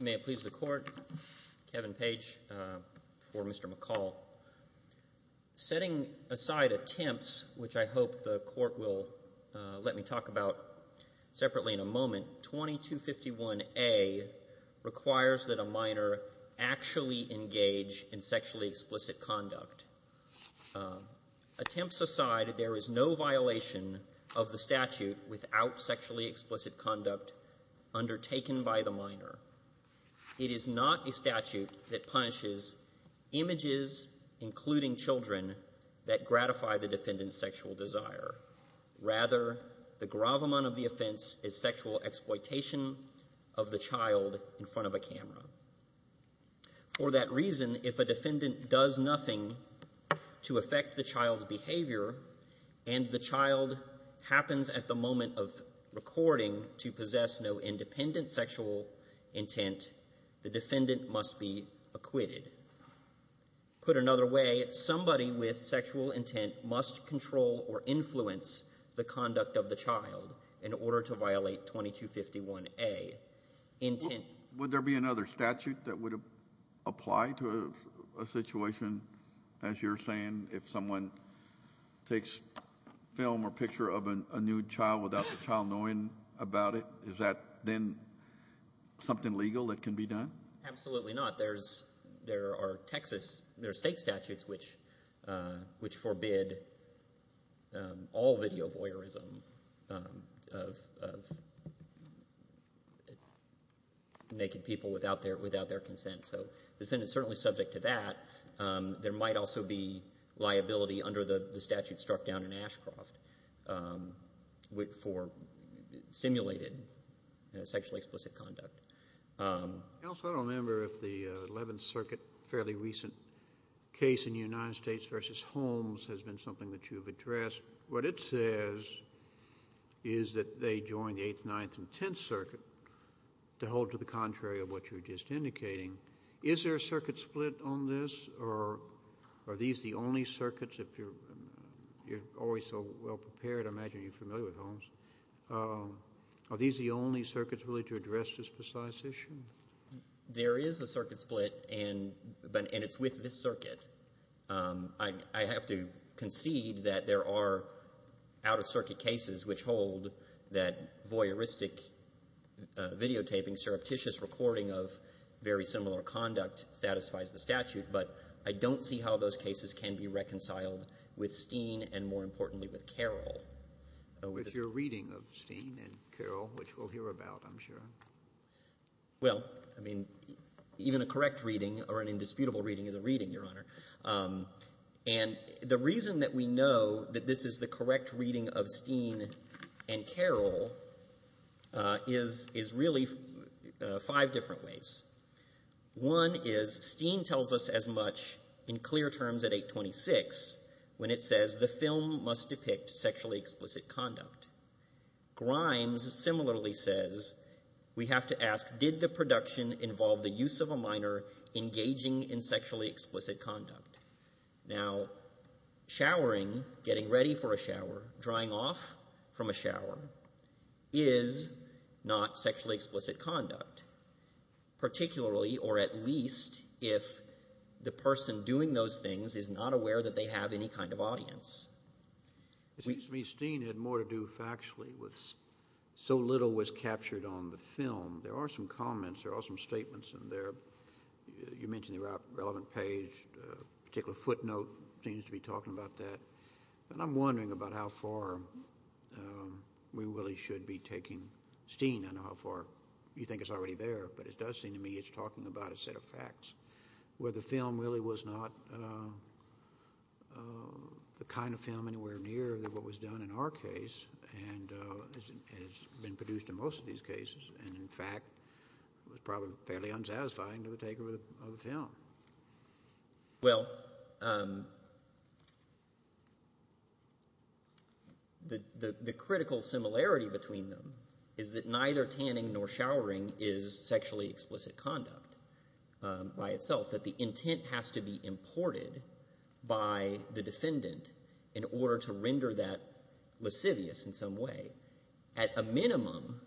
May it please the Court, Kevin Page for Mr. McCall. Setting aside attempts, which I hope the Court will let me talk about separately in a moment, 2251A requires that a minor actually engage in sexually explicit conduct. Attempts aside, there is no violation of the statute without sexually explicit conduct undertaken by the minor. It is not a statute that punishes images, including children, that gratify the defendant's sexual desire. Rather, the gravamon of the offense is sexual exploitation of the child in front of a camera. For that reason, if a defendant does nothing to affect the child's behavior and the child happens at the moment of recording to possess no independent sexual intent, the defendant must be acquitted. Put another way, somebody with sexual intent must control or influence the conduct of the child in order to violate 2251A. Would there be another statute that would apply to a situation, as you're saying, if someone takes film or picture of a nude child without the child knowing about it? Is that then something legal that can be done? Absolutely not. There are Texas, there are state statutes which forbid all video voyeurism of naked people without their consent. So the re might also be liability under the statute struck down in Ashcroft for simulated sexually explicit conduct. Counsel, I don't remember if the Eleventh Circuit fairly recent case in the United States versus Holmes has been something that you've addressed. What it says is that they joined the Eighth, Ninth, and Tenth Circuit to hold to the contrary of what you're just indicating. Is there a circuit split on this, or are these the only circuits, if you're always so well prepared, I imagine you're familiar with Holmes. Are these the only circuits really to address this precise issue? There is a circuit split, and it's with this circuit. I have to concede that there are out-of-circuit cases which hold that voyeuristic videotaping, surreptitious recording of very similar conduct satisfies the statute. But I don't see how those cases can be reconciled with Steen and, more importantly, with Carroll. With your reading of Steen and Carroll, which we'll hear about, I'm sure. Well, I mean, even a correct reading or an indisputable reading is a reading, Your Honor. And the reason that we know that this is the correct reading of Steen and Carroll is really five different ways. One is Steen tells us as much in clear terms at 826 when it says the film must depict sexually explicit conduct. Grimes similarly says we have to ask, did the production involve the use of a minor engaging in sexually explicit conduct? Now, showering, getting ready for a shower, drying off from a shower, is not sexually explicit conduct, particularly or at least if the person doing those things is not aware that they have any kind of audience. It seems to me Steen had more to do factually with so little was captured on the film. There are some comments, there are some statements in there. You mentioned the relevant page, a particular footnote seems to be talking about that. And I'm wondering about how far we really should be taking Steen. I know how far you think it's already there, but it does seem to me it's talking about a set of facts where the film really was not the kind of film anywhere near what was done in our case and has been produced in most of these cases and, in fact, was probably fairly unsatisfying to the taker of the film. Well, the critical similarity between them is that neither tanning nor showering is sexually explicit conduct. By itself, that the intent has to be imported by the defendant in order to render that lascivious in some way. At a minimum,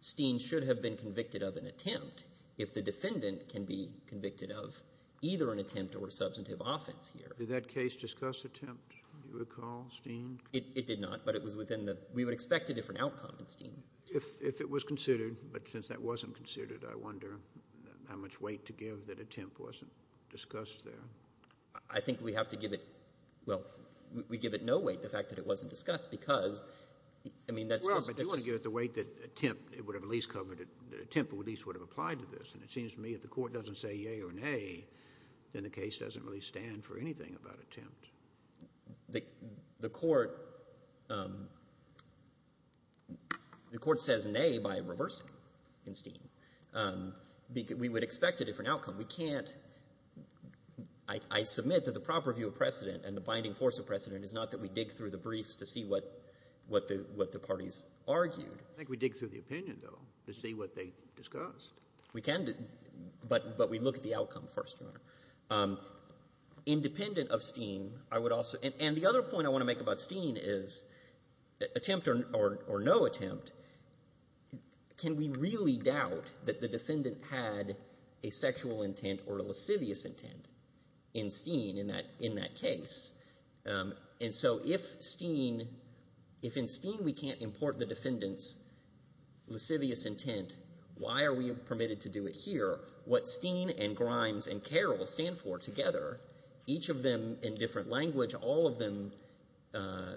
Steen should have been convicted of an attempt if the defendant can be convicted of either an attempt or substantive offense here. Did that case discuss attempt, do you recall, Steen? It did not, but it was within the—we would expect a different outcome in Steen. If it was considered, but since that wasn't considered, I wonder how much weight to give that attempt wasn't discussed there. I think we have to give it—well, we give it no weight, the fact that it wasn't discussed, because, I mean, that's just— Well, but do you want to give it the weight that attempt, it would have at least covered it, that attempt at least would have applied to this? And it seems to me if the Court doesn't say yea or nay, then the case doesn't really stand for anything about attempt. The Court says nay by reversing in Steen. We would expect a different outcome. We can't—I submit that the proper view of precedent and the binding force of precedent is not that we dig through the briefs to see what the parties argued. I think we dig through the opinion, though, to see what they discussed. Independent of Steen, I would also—and the other point I want to make about Steen is attempt or no attempt, can we really doubt that the defendant had a sexual intent or a lascivious intent in Steen in that case? And so if Steen—if in Steen we can't import the defendant's lascivious intent, why are we permitted to do it here? What Steen and Grimes and Carroll stand for together, each of them in different language, all of them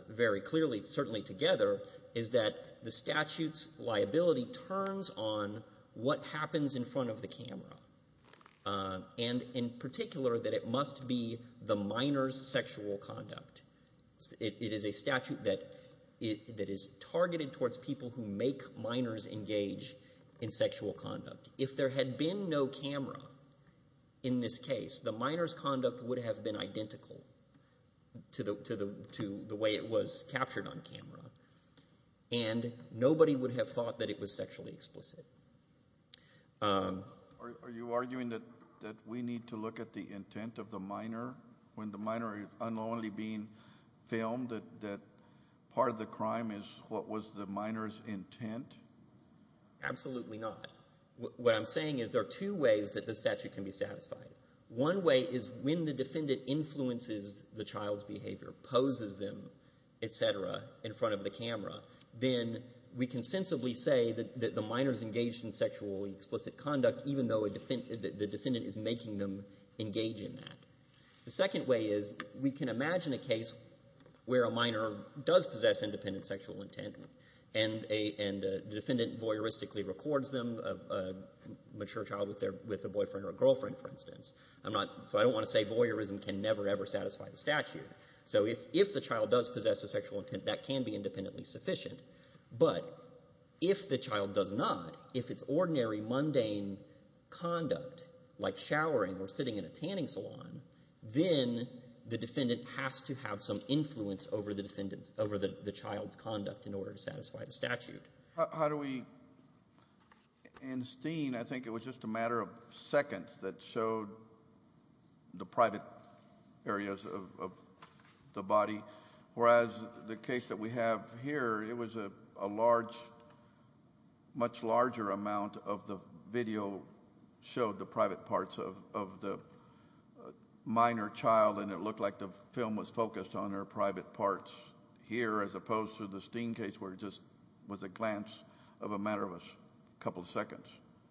very clearly certainly together, is that the statute's liability turns on what happens in front of the camera, and in particular that it must be the minor's sexual conduct. It is a statute that is targeted towards people who make minors engage in sexual conduct. If there had been no camera in this case, the minor's conduct would have been identical to the way it was captured on camera, and nobody would have thought that it was sexually explicit. Are you arguing that we need to look at the intent of the minor when the minor is unknowingly being filmed, that part of the crime is what was the minor's intent? Absolutely not. What I'm saying is there are two ways that the statute can be satisfied. One way is when the defendant influences the child's behavior, poses them, et cetera, in front of the camera, then we can sensibly say that the minor's engaged in sexually explicit conduct, even though the defendant is making them engage in that. The second way is we can imagine a case where a minor does possess independent sexual intent and the defendant voyeuristically records them, a mature child with a boyfriend or a girlfriend, for instance. So I don't want to say voyeurism can never, ever satisfy the statute. So if the child does possess a sexual intent, that can be independently sufficient. But if the child does not, if it's ordinary mundane conduct like showering or sitting in a tanning salon, then the defendant has to have some influence over the child's conduct in order to satisfy the statute. How do we – in Steen, I think it was just a matter of seconds that showed the private areas of the body, whereas the case that we have here, it was a large, much larger amount of the video showed the private parts of the minor child, and it looked like the film was focused on her private parts here as opposed to the Steen case where it just was a glance of a matter of a couple of seconds.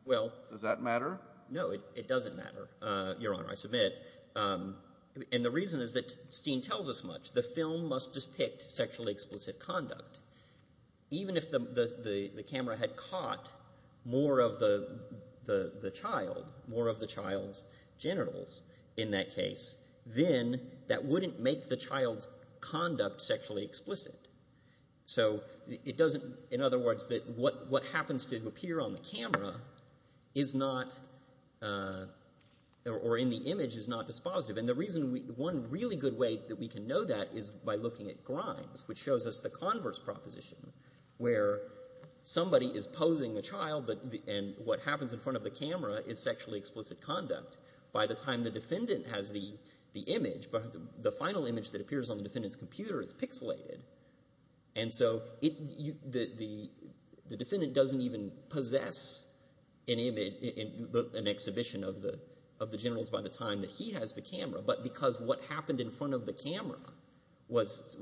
Does that matter? No, it doesn't matter, Your Honor. I submit. And the reason is that Steen tells us much. The film must depict sexually explicit conduct. Even if the camera had caught more of the child, more of the child's genitals in that case, then that wouldn't make the child's conduct sexually explicit. So it doesn't – in other words, what happens to appear on the camera is not – or in the image is not dispositive. And the reason we – one really good way that we can know that is by looking at Grimes, which shows us the converse proposition where somebody is posing a child, and what happens in front of the camera is sexually explicit conduct. By the time the defendant has the image, the final image that appears on the defendant's computer is pixelated. And so the defendant doesn't even possess an image, an exhibition of the genitals by the time that he has the camera, but because what happened in front of the camera was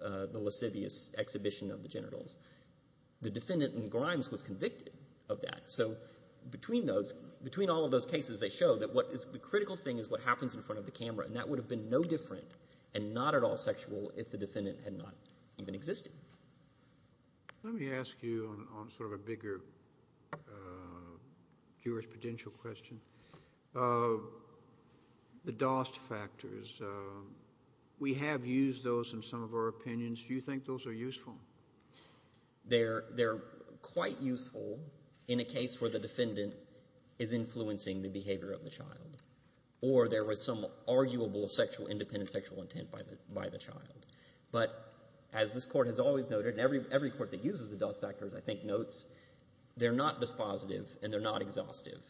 the lascivious exhibition of the genitals. The defendant in Grimes was convicted of that. So between those – between all of those cases, they show that what is – the critical thing is what happens in front of the camera, and that would have been no different and not at all sexual if the defendant had not even existed. Let me ask you on sort of a bigger jurisprudential question. The DOST factors, we have used those in some of our opinions. Do you think those are useful? They're quite useful in a case where the defendant is influencing the behavior of the child or there was some arguable sexual – independent sexual intent by the child. But as this Court has always noted, and every court that uses the DOST factors I think notes, they're not dispositive and they're not exhaustive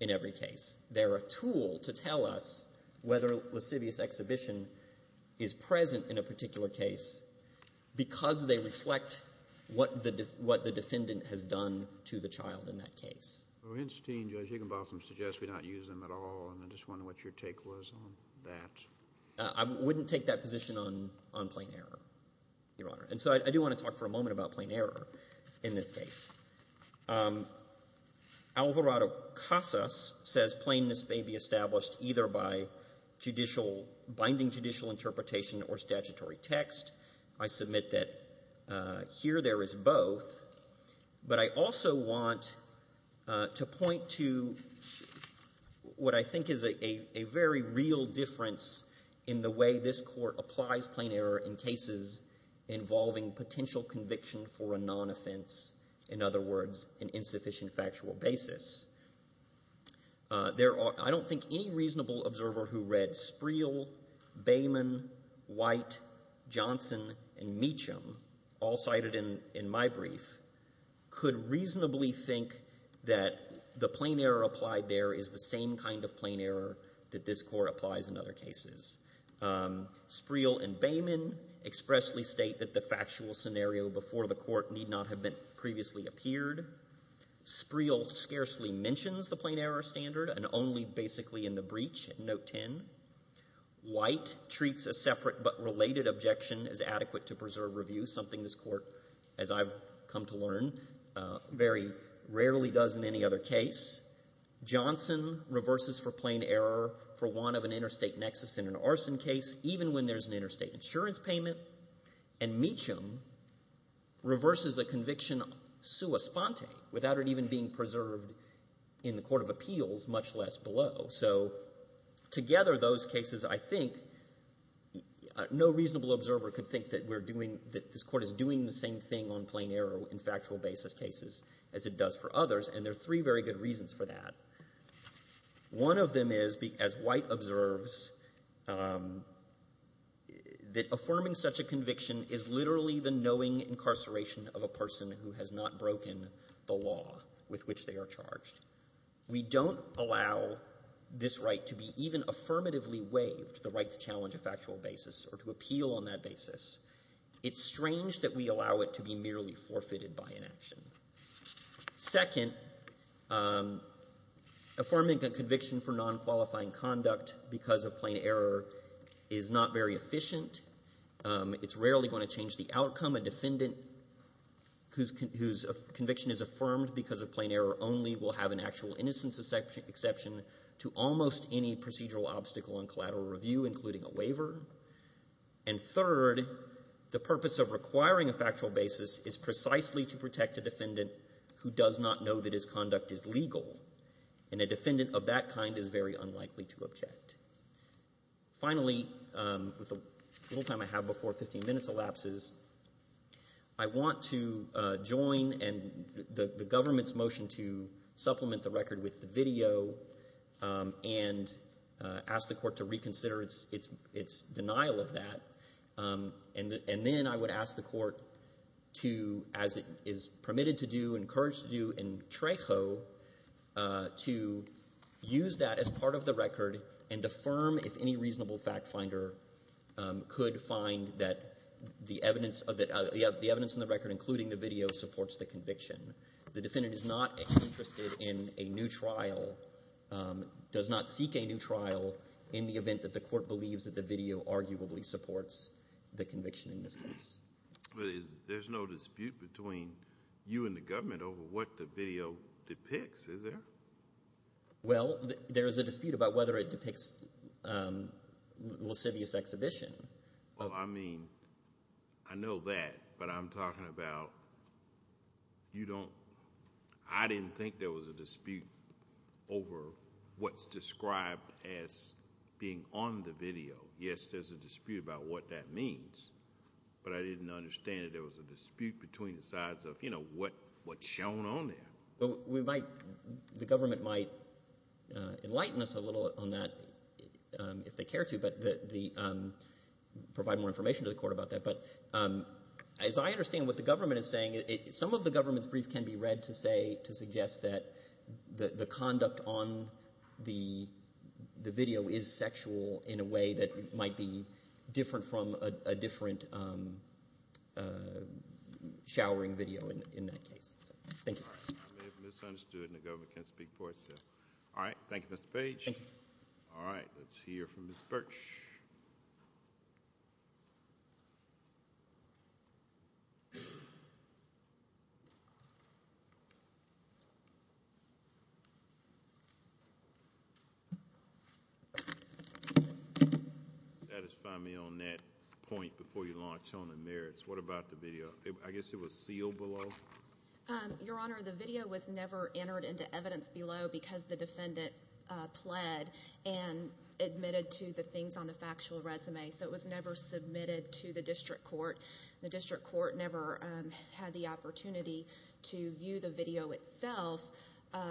in every case. They're a tool to tell us whether lascivious exhibition is present in a particular case because they reflect what the defendant has done to the child in that case. Well, Weinstein and Judge Higginbotham suggest we not use them at all, and I just wondered what your take was on that. I wouldn't take that position on plain error, Your Honor. And so I do want to talk for a moment about plain error in this case. Alvarado-Casas says plainness may be established either by binding judicial interpretation or statutory text. I submit that here there is both. But I also want to point to what I think is a very real difference in the way this Court applies plain error in cases involving potential conviction for a non-offense, in other words, an insufficient factual basis. I don't think any reasonable observer who read Spreel, Bayman, White, Johnson, and Meacham, all cited in my brief, could reasonably think that the plain error applied there is the same kind of plain error that this Court applies in other cases. Spreel and Bayman expressly state that the factual scenario before the court need not have previously appeared. Spreel scarcely mentions the plain error standard and only basically in the breach in Note 10. White treats a separate but related objection as adequate to preserve review, something this Court, as I've come to learn, very rarely does in any other case. Johnson reverses for plain error for one of an interstate nexus in an arson case even when there's an interstate insurance payment. And Meacham reverses a conviction sua sponte without it even being preserved in the court of appeals, much less below. So together those cases, I think, no reasonable observer could think that we're doing that this Court is doing the same thing on plain error in factual basis cases as it does for others. And there are three very good reasons for that. One of them is, as White observes, that affirming such a conviction is literally the knowing incarceration of a person who has not broken the law with which they are charged. We don't allow this right to be even affirmatively waived, the right to challenge a factual basis or to appeal on that basis. It's strange that we allow it to be merely forfeited by inaction. Second, affirming a conviction for non-qualifying conduct because of plain error is not very efficient. It's rarely going to change the outcome. A defendant whose conviction is affirmed because of plain error only will have an actual innocence exception to almost any procedural obstacle in collateral review, including a waiver. And third, the purpose of requiring a factual basis is precisely to protect a defendant who does not know that his conduct is legal. And a defendant of that kind is very unlikely to object. Finally, with the little time I have before 15 minutes elapses, I want to join the government's record with the video and ask the court to reconsider its denial of that. And then I would ask the court to, as it is permitted to do, encouraged to do in Trejo, to use that as part of the record and affirm if any reasonable fact finder could find that the evidence in the record, including the video, supports the conviction. The defendant is not interested in a new trial, does not seek a new trial, in the event that the court believes that the video arguably supports the conviction in this case. But there's no dispute between you and the government over what the video depicts, is there? Well, there is a dispute about whether it depicts lascivious exhibition. Well, I mean, I know that, but I'm talking about you don't – I didn't think there was a dispute over what's described as being on the video. Yes, there's a dispute about what that means, but I didn't understand that there was a dispute between the sides of, you know, what's shown on there. Well, we might – the government might enlighten us a little on that if they care to, but provide more information to the court about that. But as I understand what the government is saying, some of the government's brief can be read to suggest that the conduct on the video is sexual in a way that might be different from a different showering video in that case. Thank you. I may have misunderstood, and the government can't speak for itself. All right. Thank you, Mr. Page. Thank you. All right. Let's hear from Ms. Birch. Satisfy me on that point before you launch on the merits. What about the video? I guess it was sealed below. Your Honor, the video was never entered into evidence below because the defendant pled and admitted to the things on the factual resume, so it was never submitted to the district court. The district court never had the opportunity to view the video itself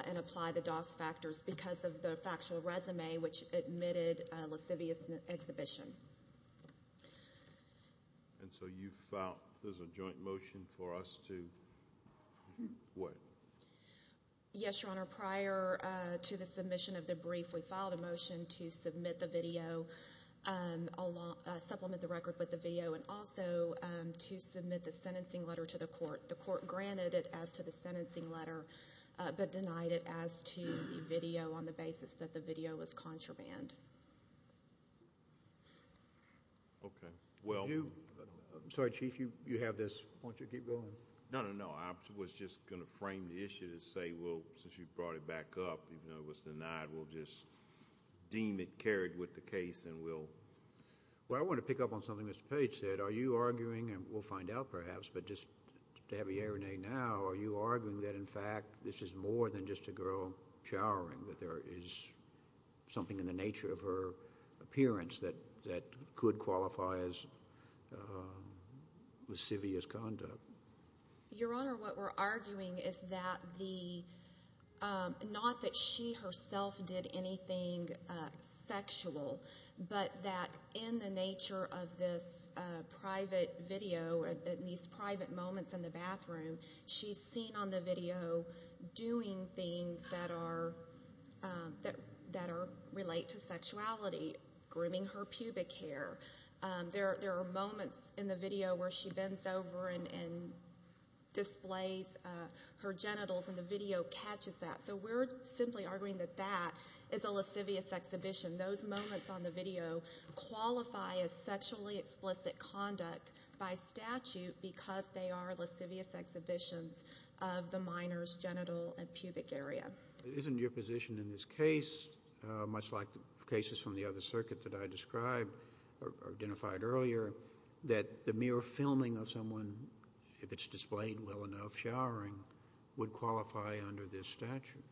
and apply the DOS factors because of the factual resume, which admitted a lascivious exhibition. And so there's a joint motion for us to what? Yes, Your Honor. Prior to the submission of the brief, we filed a motion to submit the video, supplement the record with the video, and also to submit the sentencing letter to the court. The court granted it as to the sentencing letter but denied it as to the video on the basis that the video was contraband. Okay. Well. I'm sorry, Chief. You have this. Why don't you keep going? No, no, no. I was just going to frame the issue to say, well, since you brought it back up, even though it was denied, we'll just deem it carried with the case and we'll. Well, I want to pick up on something Mr. Page said. Are you arguing, and we'll find out perhaps, but just to have a hearing now, are you arguing that, in fact, this is more than just a girl showering, that there is something in the nature of her appearance that could qualify as lascivious conduct? Your Honor, what we're arguing is that the, not that she herself did anything sexual, but that in the nature of this private video, these private moments in the bathroom, she's seen on the video doing things that are, that relate to sexuality, grooming her pubic hair. There are moments in the video where she bends over and displays her genitals, and the video catches that. So we're simply arguing that that is a lascivious exhibition. Those moments on the video qualify as sexually explicit conduct by statute because they are lascivious exhibitions of the minor's genital and pubic area. Isn't your position in this case, much like the cases from the other circuit that I described or identified earlier, that the mere filming of someone, if it's displayed well enough showering, would qualify under this statute?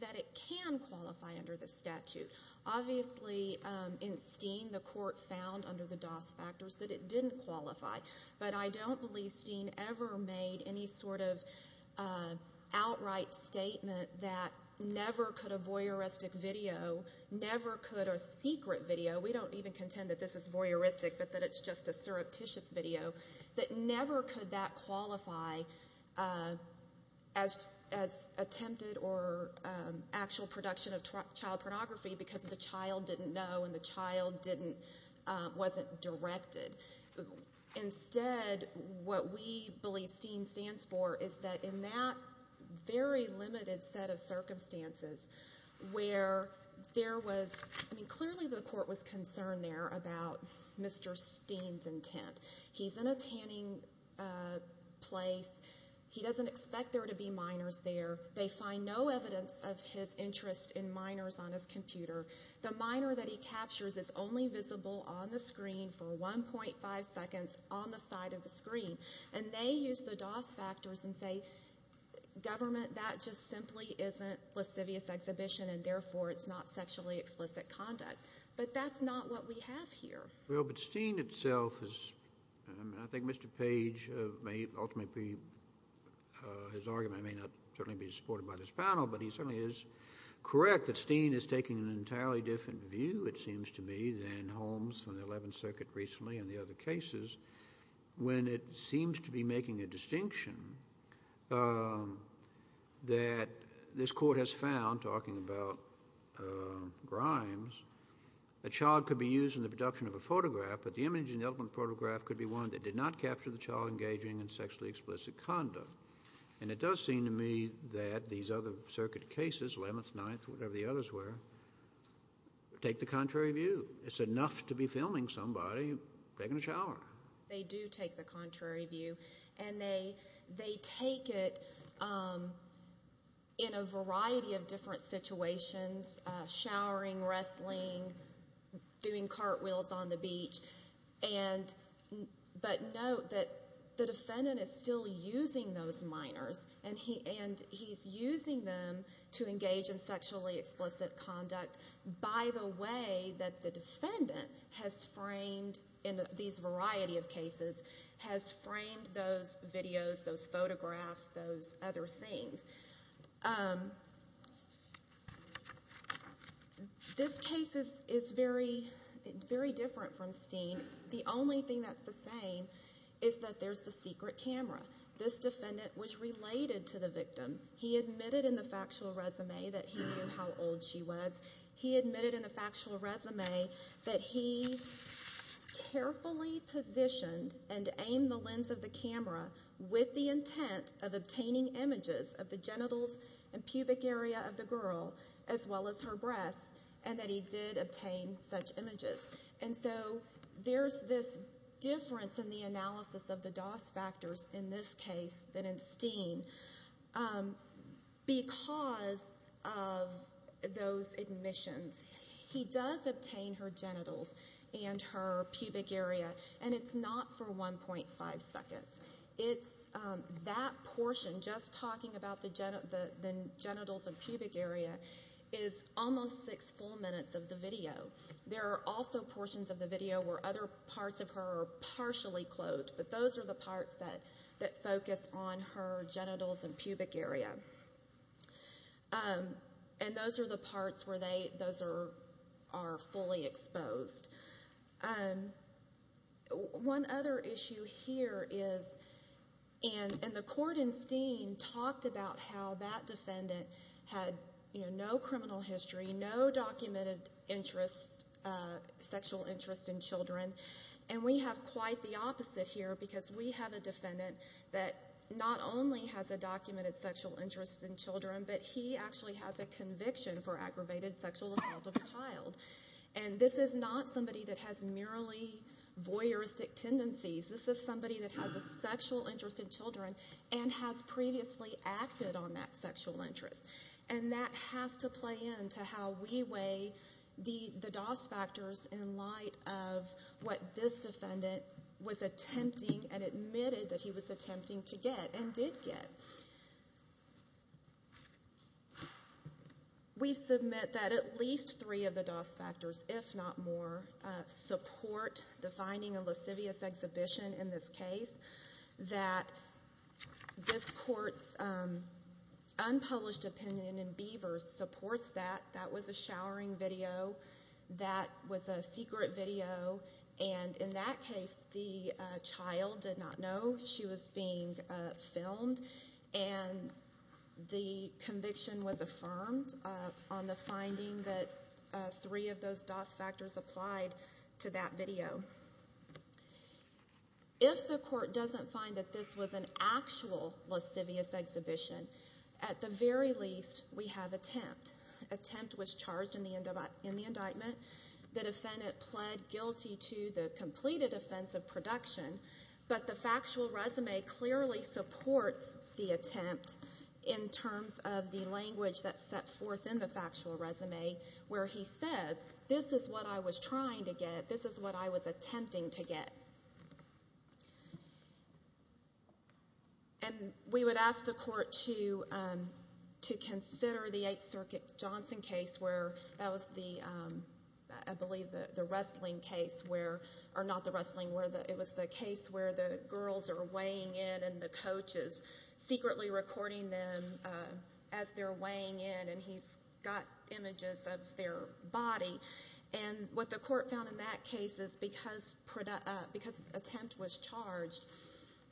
That it can qualify under the statute. Obviously, in Steen, the court found under the DOS factors that it didn't qualify. But I don't believe Steen ever made any sort of outright statement that never could a voyeuristic video, never could a secret video, we don't even contend that this is voyeuristic but that it's just a surreptitious video, that never could that qualify as attempted or actual production of child pornography because the child didn't know and the child wasn't directed. Instead, what we believe Steen stands for is that in that very limited set of circumstances where there was, I mean clearly the court was concerned there about Mr. Steen's intent. He's in a tanning place. He doesn't expect there to be minors there. They find no evidence of his interest in minors on his computer. The minor that he captures is only visible on the screen for 1.5 seconds on the side of the screen. And they use the DOS factors and say, government, that just simply isn't lascivious exhibition and therefore it's not sexually explicit conduct. But that's not what we have here. Well, but Steen itself is, and I think Mr. Page may ultimately be, his argument may not certainly be supported by this panel, but he certainly is correct that Steen is taking an entirely different view it seems to me than Holmes from the 11th Circuit recently and the other cases when it seems to be making a distinction that this court has found, talking about Grimes, that a child could be used in the production of a photograph, but the image in the photograph could be one that did not capture the child engaging in sexually explicit conduct. And it does seem to me that these other circuit cases, 11th, 9th, whatever the others were, take the contrary view. It's enough to be filming somebody taking a shower. They do take the contrary view, and they take it in a variety of different situations, showering, wrestling, doing cartwheels on the beach. But note that the defendant is still using those minors, and he's using them to engage in sexually explicit conduct by the way that the defendant has framed, in these variety of cases, has framed those videos, those photographs, those other things. This case is very different from Steen. The only thing that's the same is that there's the secret camera. This defendant was related to the victim. He admitted in the factual resume that he knew how old she was. He admitted in the factual resume that he carefully positioned and aimed the lens of the camera with the intent of obtaining images of the genitals and pubic area of the girl, as well as her breasts, and that he did obtain such images. And so there's this difference in the analysis of the DOS factors in this case than in Steen. Because of those admissions, he does obtain her genitals and her pubic area, and it's not for 1.5 seconds. It's that portion, just talking about the genitals and pubic area, is almost six full minutes of the video. There are also portions of the video where other parts of her are partially clothed, but those are the parts that focus on her genitals and pubic area. And those are the parts where those are fully exposed. One other issue here is, and the court in Steen talked about how that defendant had no criminal history, no documented sexual interest in children, and we have quite the opposite here, because we have a defendant that not only has a documented sexual interest in children, but he actually has a conviction for aggravated sexual assault of a child. And this is not somebody that has merely voyeuristic tendencies. This is somebody that has a sexual interest in children and has previously acted on that sexual interest. And that has to play into how we weigh the DOS factors in light of what this defendant was attempting and admitted that he was attempting to get and did get. We submit that at least three of the DOS factors, if not more, support the finding of lascivious exhibition in this case, that this court's unpublished opinion in Beavers supports that. That was a showering video. That was a secret video. And in that case, the child did not know she was being filmed, and the conviction was affirmed on the finding that three of those DOS factors applied to that video. If the court doesn't find that this was an actual lascivious exhibition, at the very least, we have attempt. Attempt was charged in the indictment. The defendant pled guilty to the completed offense of production, but the factual resume clearly supports the attempt in terms of the language that's set forth in the factual resume, where he says, this is what I was trying to get. This is what I was attempting to get. And we would ask the court to consider the Eighth Circuit Johnson case where that was the, I believe, the wrestling case, or not the wrestling, it was the case where the girls are weighing in and the coach is secretly recording them as they're weighing in, and he's got images of their body. And what the court found in that case is because attempt was charged,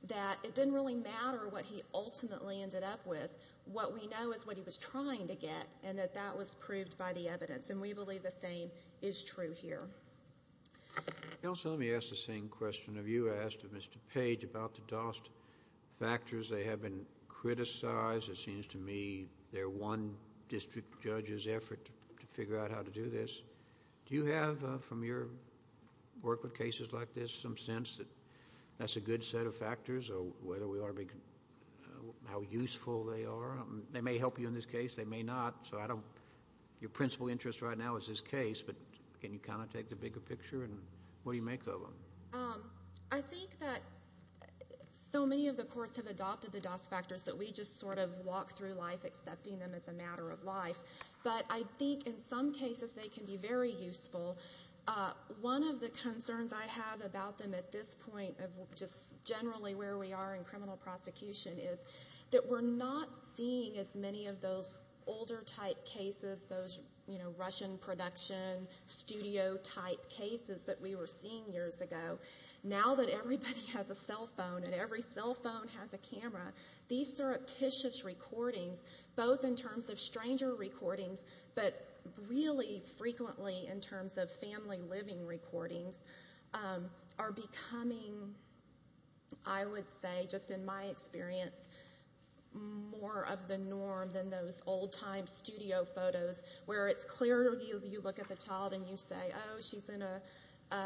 that it didn't really matter what he ultimately ended up with. What we know is what he was trying to get, and that that was proved by the evidence. And we believe the same is true here. Also, let me ask the same question of you. I asked of Mr. Page about the DOS factors. They have been criticized. It seems to me they're one district judge's effort to figure out how to do this. Do you have, from your work with cases like this, some sense that that's a good set of factors, or whether we ought to be, how useful they are? They may help you in this case. They may not. So I don't, your principal interest right now is this case, but can you kind of take the bigger picture, and what do you make of them? I think that so many of the courts have adopted the DOS factors that we just sort of walk through life accepting them as a matter of life. But I think in some cases they can be very useful. One of the concerns I have about them at this point of just generally where we are in criminal prosecution is that we're not seeing as many of those older-type cases, those Russian production studio-type cases that we were seeing years ago. Now that everybody has a cell phone and every cell phone has a camera, these surreptitious recordings, both in terms of stranger recordings, but really frequently in terms of family living recordings, are becoming, I would say, just in my experience, more of the norm than those old-time studio photos where it's clear. You look at the child and you say, oh, she's in an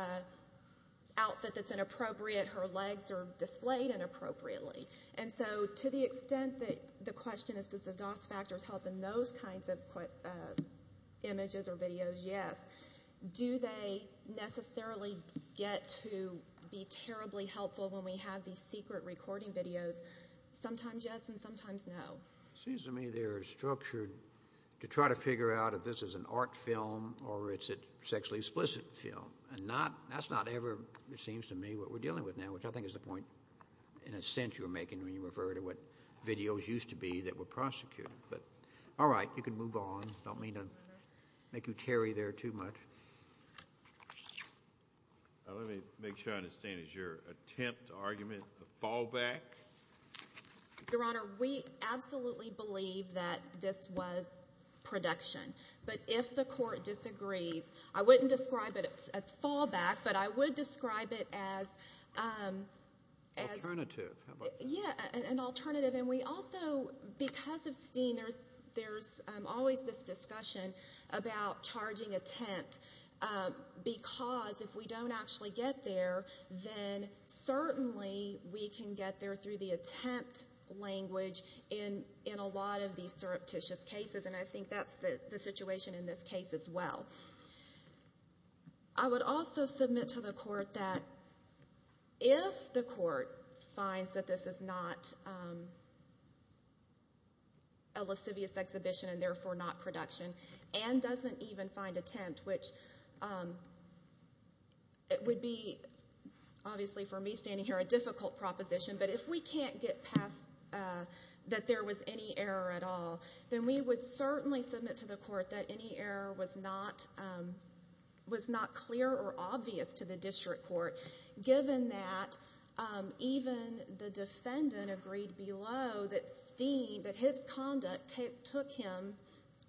outfit that's inappropriate. Her legs are displayed inappropriately. And so to the extent that the question is does the DOS factors help in those kinds of images or videos, yes. Do they necessarily get to be terribly helpful when we have these secret recording videos? Sometimes yes and sometimes no. It seems to me they're structured to try to figure out if this is an art film or it's a sexually explicit film. And that's not ever, it seems to me, what we're dealing with now, which I think is the point, in a sense, you're making when you refer to what videos used to be that were prosecuted. But all right, you can move on. I don't mean to make you tarry there too much. Let me make sure I understand. Is your attempt to argument a fallback? Your Honor, we absolutely believe that this was production. But if the court disagrees, I wouldn't describe it as fallback, but I would describe it as alternative. Yeah, an alternative. And we also, because of Steen, there's always this discussion about charging attempt because if we don't actually get there, then certainly we can get there through the attempt language in a lot of these surreptitious cases, and I think that's the situation in this case as well. I would also submit to the court that if the court finds that this is not a lascivious exhibition and therefore not production and doesn't even find attempt, which it would be obviously for me standing here a difficult proposition, but if we can't get past that there was any error at all, then we would certainly submit to the court that any error was not clear or obvious to the district court, given that even the defendant agreed below that Steen, that his conduct took him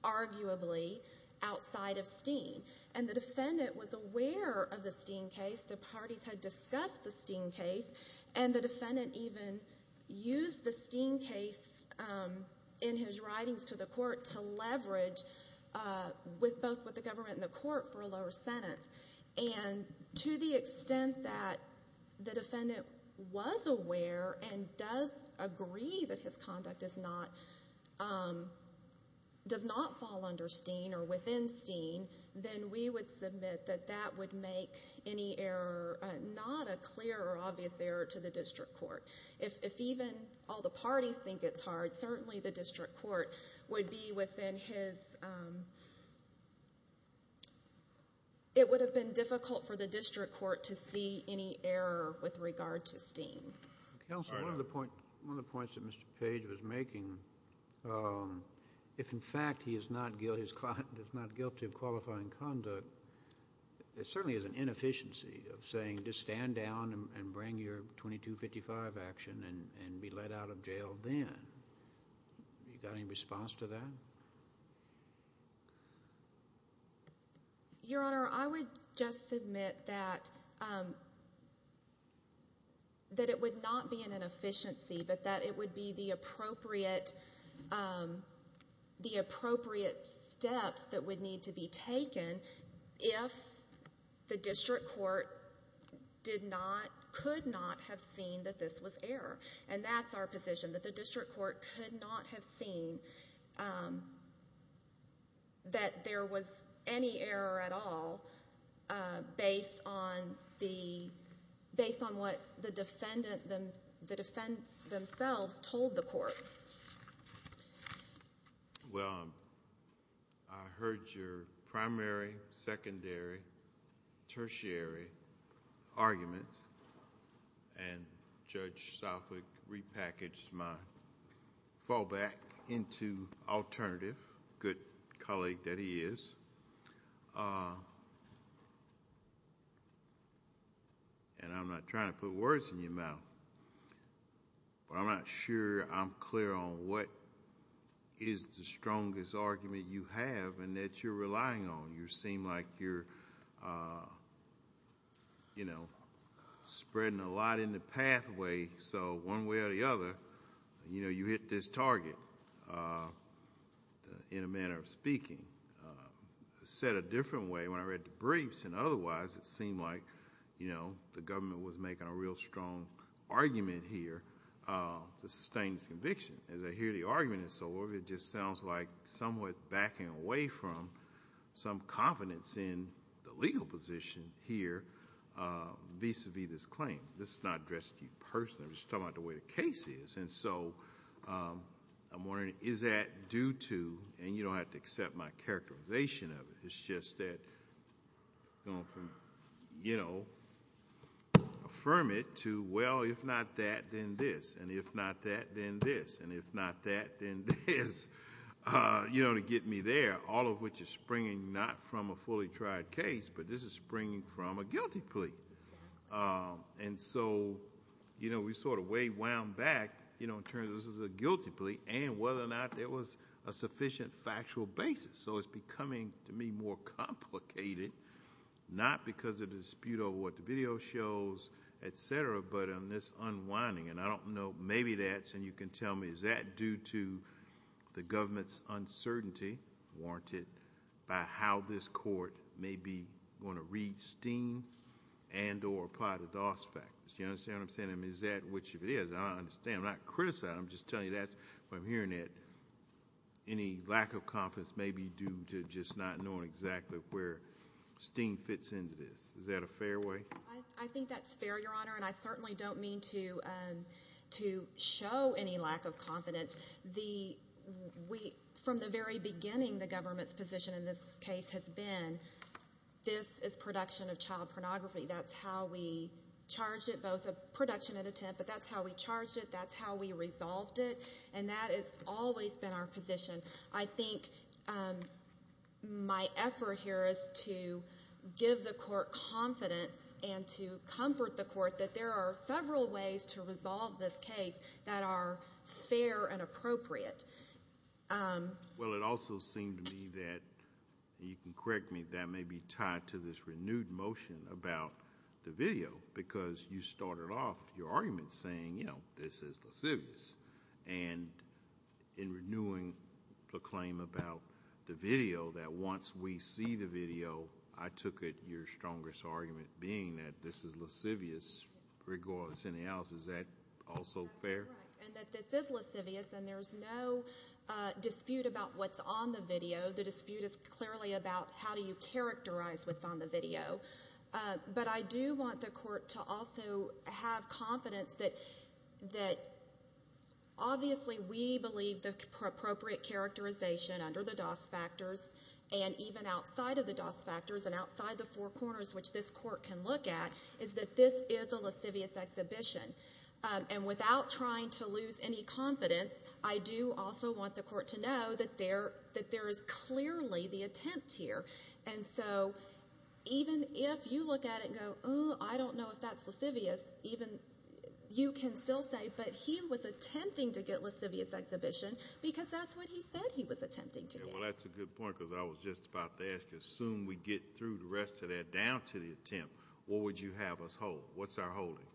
arguably outside of Steen. And the defendant was aware of the Steen case. The parties had discussed the Steen case, and the defendant even used the Steen case in his writings to the court to leverage both with the government and the court for a lower sentence. And to the extent that the defendant was aware and does agree that his conduct does not fall under Steen or within Steen, then we would submit that that would make any error not a clear or obvious error to the district court. If even all the parties think it's hard, certainly the district court would be within his – it would have been difficult for the district court to see any error with regard to Steen. Counsel, one of the points that Mr. Page was making, if in fact he is not guilty of qualifying conduct, there certainly is an inefficiency of saying just stand down and bring your 2255 action and be let out of jail then. You got any response to that? Your Honor, I would just submit that it would not be an inefficiency, but that it would be the appropriate steps that would need to be taken if the district court could not have seen that this was error. And that's our position, that the district court could not have seen that there was any error at all based on what the defense themselves told the court. Well, I heard your primary, secondary, tertiary arguments, and Judge Southwick repackaged my fallback into alternative, good colleague that he is. And I'm not trying to put words in your mouth, but I'm not sure I'm clear on what is the strongest argument you have and that you're relying on. You seem like you're, you know, spreading a lot in the pathway, so one way or the other, you know, you hit this target in a manner of speaking. Said it a different way when I read the briefs, and otherwise it seemed like, you know, the government was making a real strong argument here to sustain this conviction. As I hear the argument and so forth, it just sounds like somewhat backing away from some confidence in the legal position here vis-à-vis this claim. This is not addressed to you personally, I'm just talking about the way the case is. And so I'm wondering, is that due to, and you don't have to accept my characterization of it, it's just that, you know, affirm it to, well, if not that, then this, and if not that, then this, and if not that, then this, you know, to get me there. All of which is springing not from a fully tried case, but this is springing from a guilty plea. And so, you know, we sort of way wound back, you know, in terms of this is a guilty plea, and whether or not there was a sufficient factual basis. So it's becoming, to me, more complicated, not because of the dispute over what the video shows, et cetera, but in this unwinding, and I don't know, maybe that's, and you can tell me, is that due to the government's uncertainty warranted by how this court may be going to read Steen and or apply the Doss factors, you understand what I'm saying? I mean, is that, which if it is, I understand, I'm not criticizing, I'm just telling you that's what I'm hearing, that any lack of confidence may be due to just not knowing exactly where Steen fits into this. Is that a fair way? I think that's fair, Your Honor, and I certainly don't mean to show any lack of confidence. From the very beginning, the government's position in this case has been this is production of child pornography. That's how we charged it, both a production and attempt, but that's how we charged it, that's how we resolved it, and that has always been our position. I think my effort here is to give the court confidence and to comfort the court that there are several ways to resolve this case that are fair and appropriate. Well, it also seemed to me that, and you can correct me, that may be tied to this renewed motion about the video because you started off your argument saying, you know, this is lascivious. And in renewing the claim about the video, that once we see the video, I took it your strongest argument being that this is lascivious. Regardless of anything else, is that also fair? And that this is lascivious and there's no dispute about what's on the video. The dispute is clearly about how do you characterize what's on the video. But I do want the court to also have confidence that obviously we believe the appropriate characterization under the DOS factors and even outside of the DOS factors and outside the four corners which this court can look at is that this is a lascivious exhibition. And without trying to lose any confidence, I do also want the court to know that there is clearly the attempt here. And so even if you look at it and go, I don't know if that's lascivious, you can still say, but he was attempting to get lascivious exhibition because that's what he said he was attempting to get. Well, that's a good point because I was just about to ask you, assume we get through the rest of that down to the attempt, what would you have us hold? What's our holding?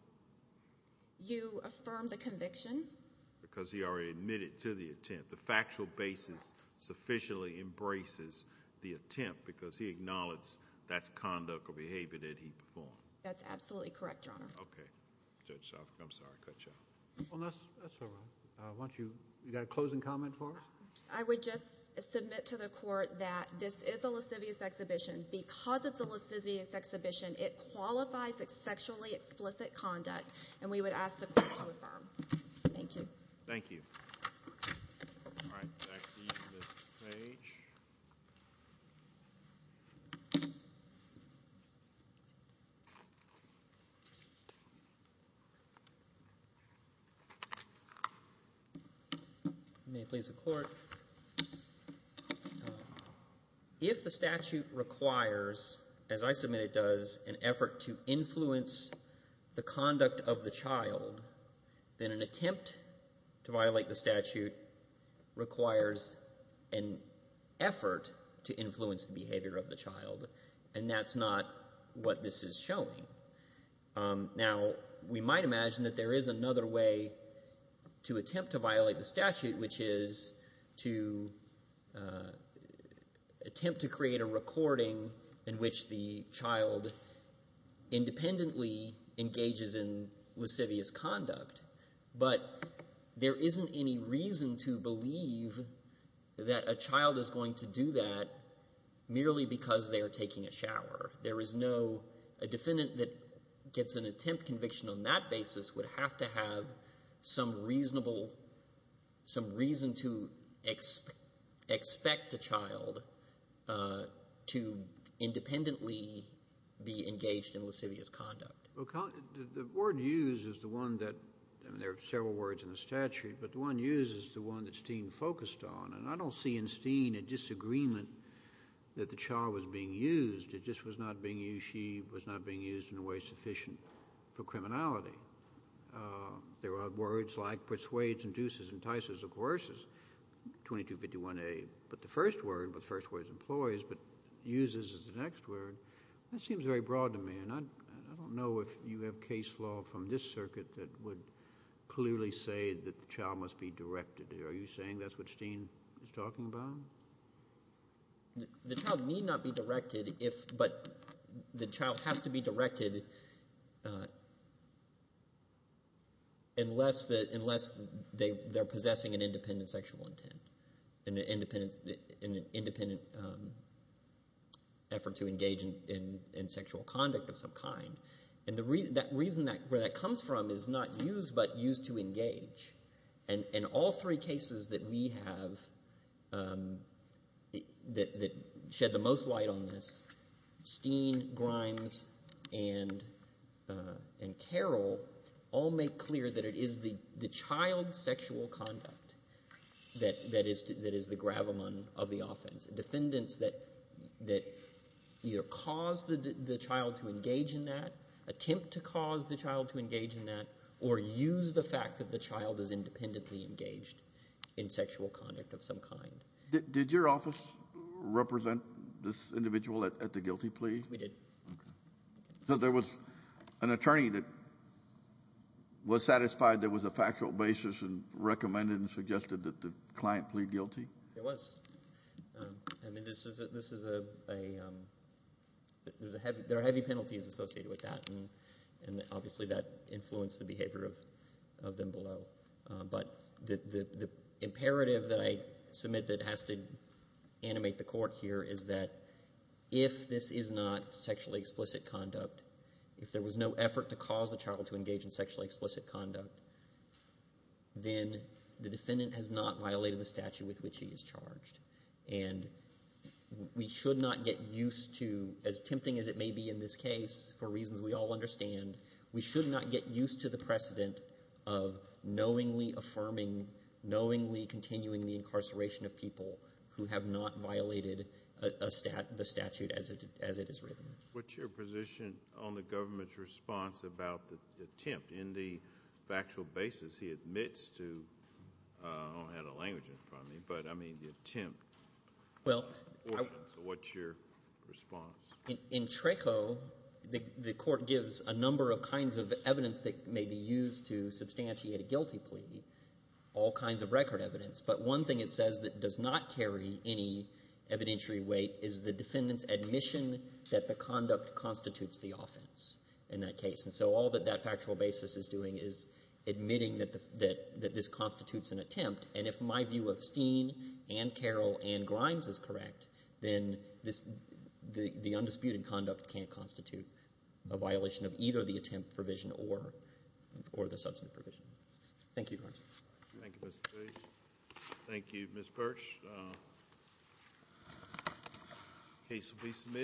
You affirm the conviction. Because he already admitted to the attempt. The factual basis sufficiently embraces the attempt because he acknowledged that's conduct or behavior that he performed. That's absolutely correct, Your Honor. Okay. Judge Shoffman, I'm sorry, I cut you off. That's all right. You got a closing comment for us? I would just submit to the court that this is a lascivious exhibition. Because it's a lascivious exhibition, it qualifies as sexually explicit conduct, and we would ask the court to affirm. Thank you. Thank you. All right. Back to you, Mr. Page. May it please the Court. If the statute requires, as I submit it does, an effort to influence the conduct of the child, then an attempt to violate the statute requires an effort to influence the behavior of the child, and that's not what this is showing. Now, we might imagine that there is another way to attempt to violate the statute, which is to attempt to create a recording in which the child independently engages in lascivious conduct. But there isn't any reason to believe that a child is going to do that merely because they are taking a shower. A defendant that gets an attempt conviction on that basis would have to have some reason to expect a child to independently be engaged in lascivious conduct. The word used is the one that — there are several words in the statute, but the one used is the one that Steen focused on. And I don't see in Steen a disagreement that the child was being used. It just was not being used. She was not being used in a way sufficient for criminality. There are words like persuades, induces, entices, or coerces, 2251A. But the first word was the first word is employs, but uses is the next word. That seems very broad to me, and I don't know if you have case law from this circuit that would clearly say that the child must be directed. Are you saying that's what Steen is talking about? The child need not be directed, but the child has to be directed unless they're possessing an independent sexual intent, an independent effort to engage in sexual conduct of some kind. And that reason where that comes from is not used, but used to engage. And all three cases that we have that shed the most light on this, Steen, Grimes, and Carroll, all make clear that it is the child's sexual conduct that is the gravamon of the offense. Defendants that either cause the child to engage in that, attempt to cause the child to engage in that, or use the fact that the child is independently engaged in sexual conduct of some kind. Did your office represent this individual at the guilty plea? We did. Okay. So there was an attorney that was satisfied there was a factual basis and recommended and suggested that the client plead guilty? There was. I mean, there are heavy penalties associated with that, and obviously that influenced the behavior of them below. But the imperative that I submit that has to animate the court here is that if this is not sexually explicit conduct, if there was no effort to cause the child to engage in sexually explicit conduct, then the defendant has not violated the statute with which he is charged. And we should not get used to, as tempting as it may be in this case, for reasons we all understand, we should not get used to the precedent of knowingly affirming, knowingly continuing the incarceration of people who have not violated the statute as it is written. What's your position on the government's response about the attempt in the factual basis he admits to? I don't have the language in front of me, but, I mean, the attempt. So what's your response? In TRACO, the court gives a number of kinds of evidence that may be used to substantiate a guilty plea, all kinds of record evidence. But one thing it says that does not carry any evidentiary weight is the defendant's admission that the conduct constitutes the offense in that case. And so all that that factual basis is doing is admitting that this constitutes an attempt. And if my view of Steen and Carroll and Grimes is correct, then the undisputed conduct can't constitute a violation of either the attempt provision or the substantive provision. Thank you, Your Honor. Thank you, Mr. Page. Thank you, Ms. Perch. The case will be submitted.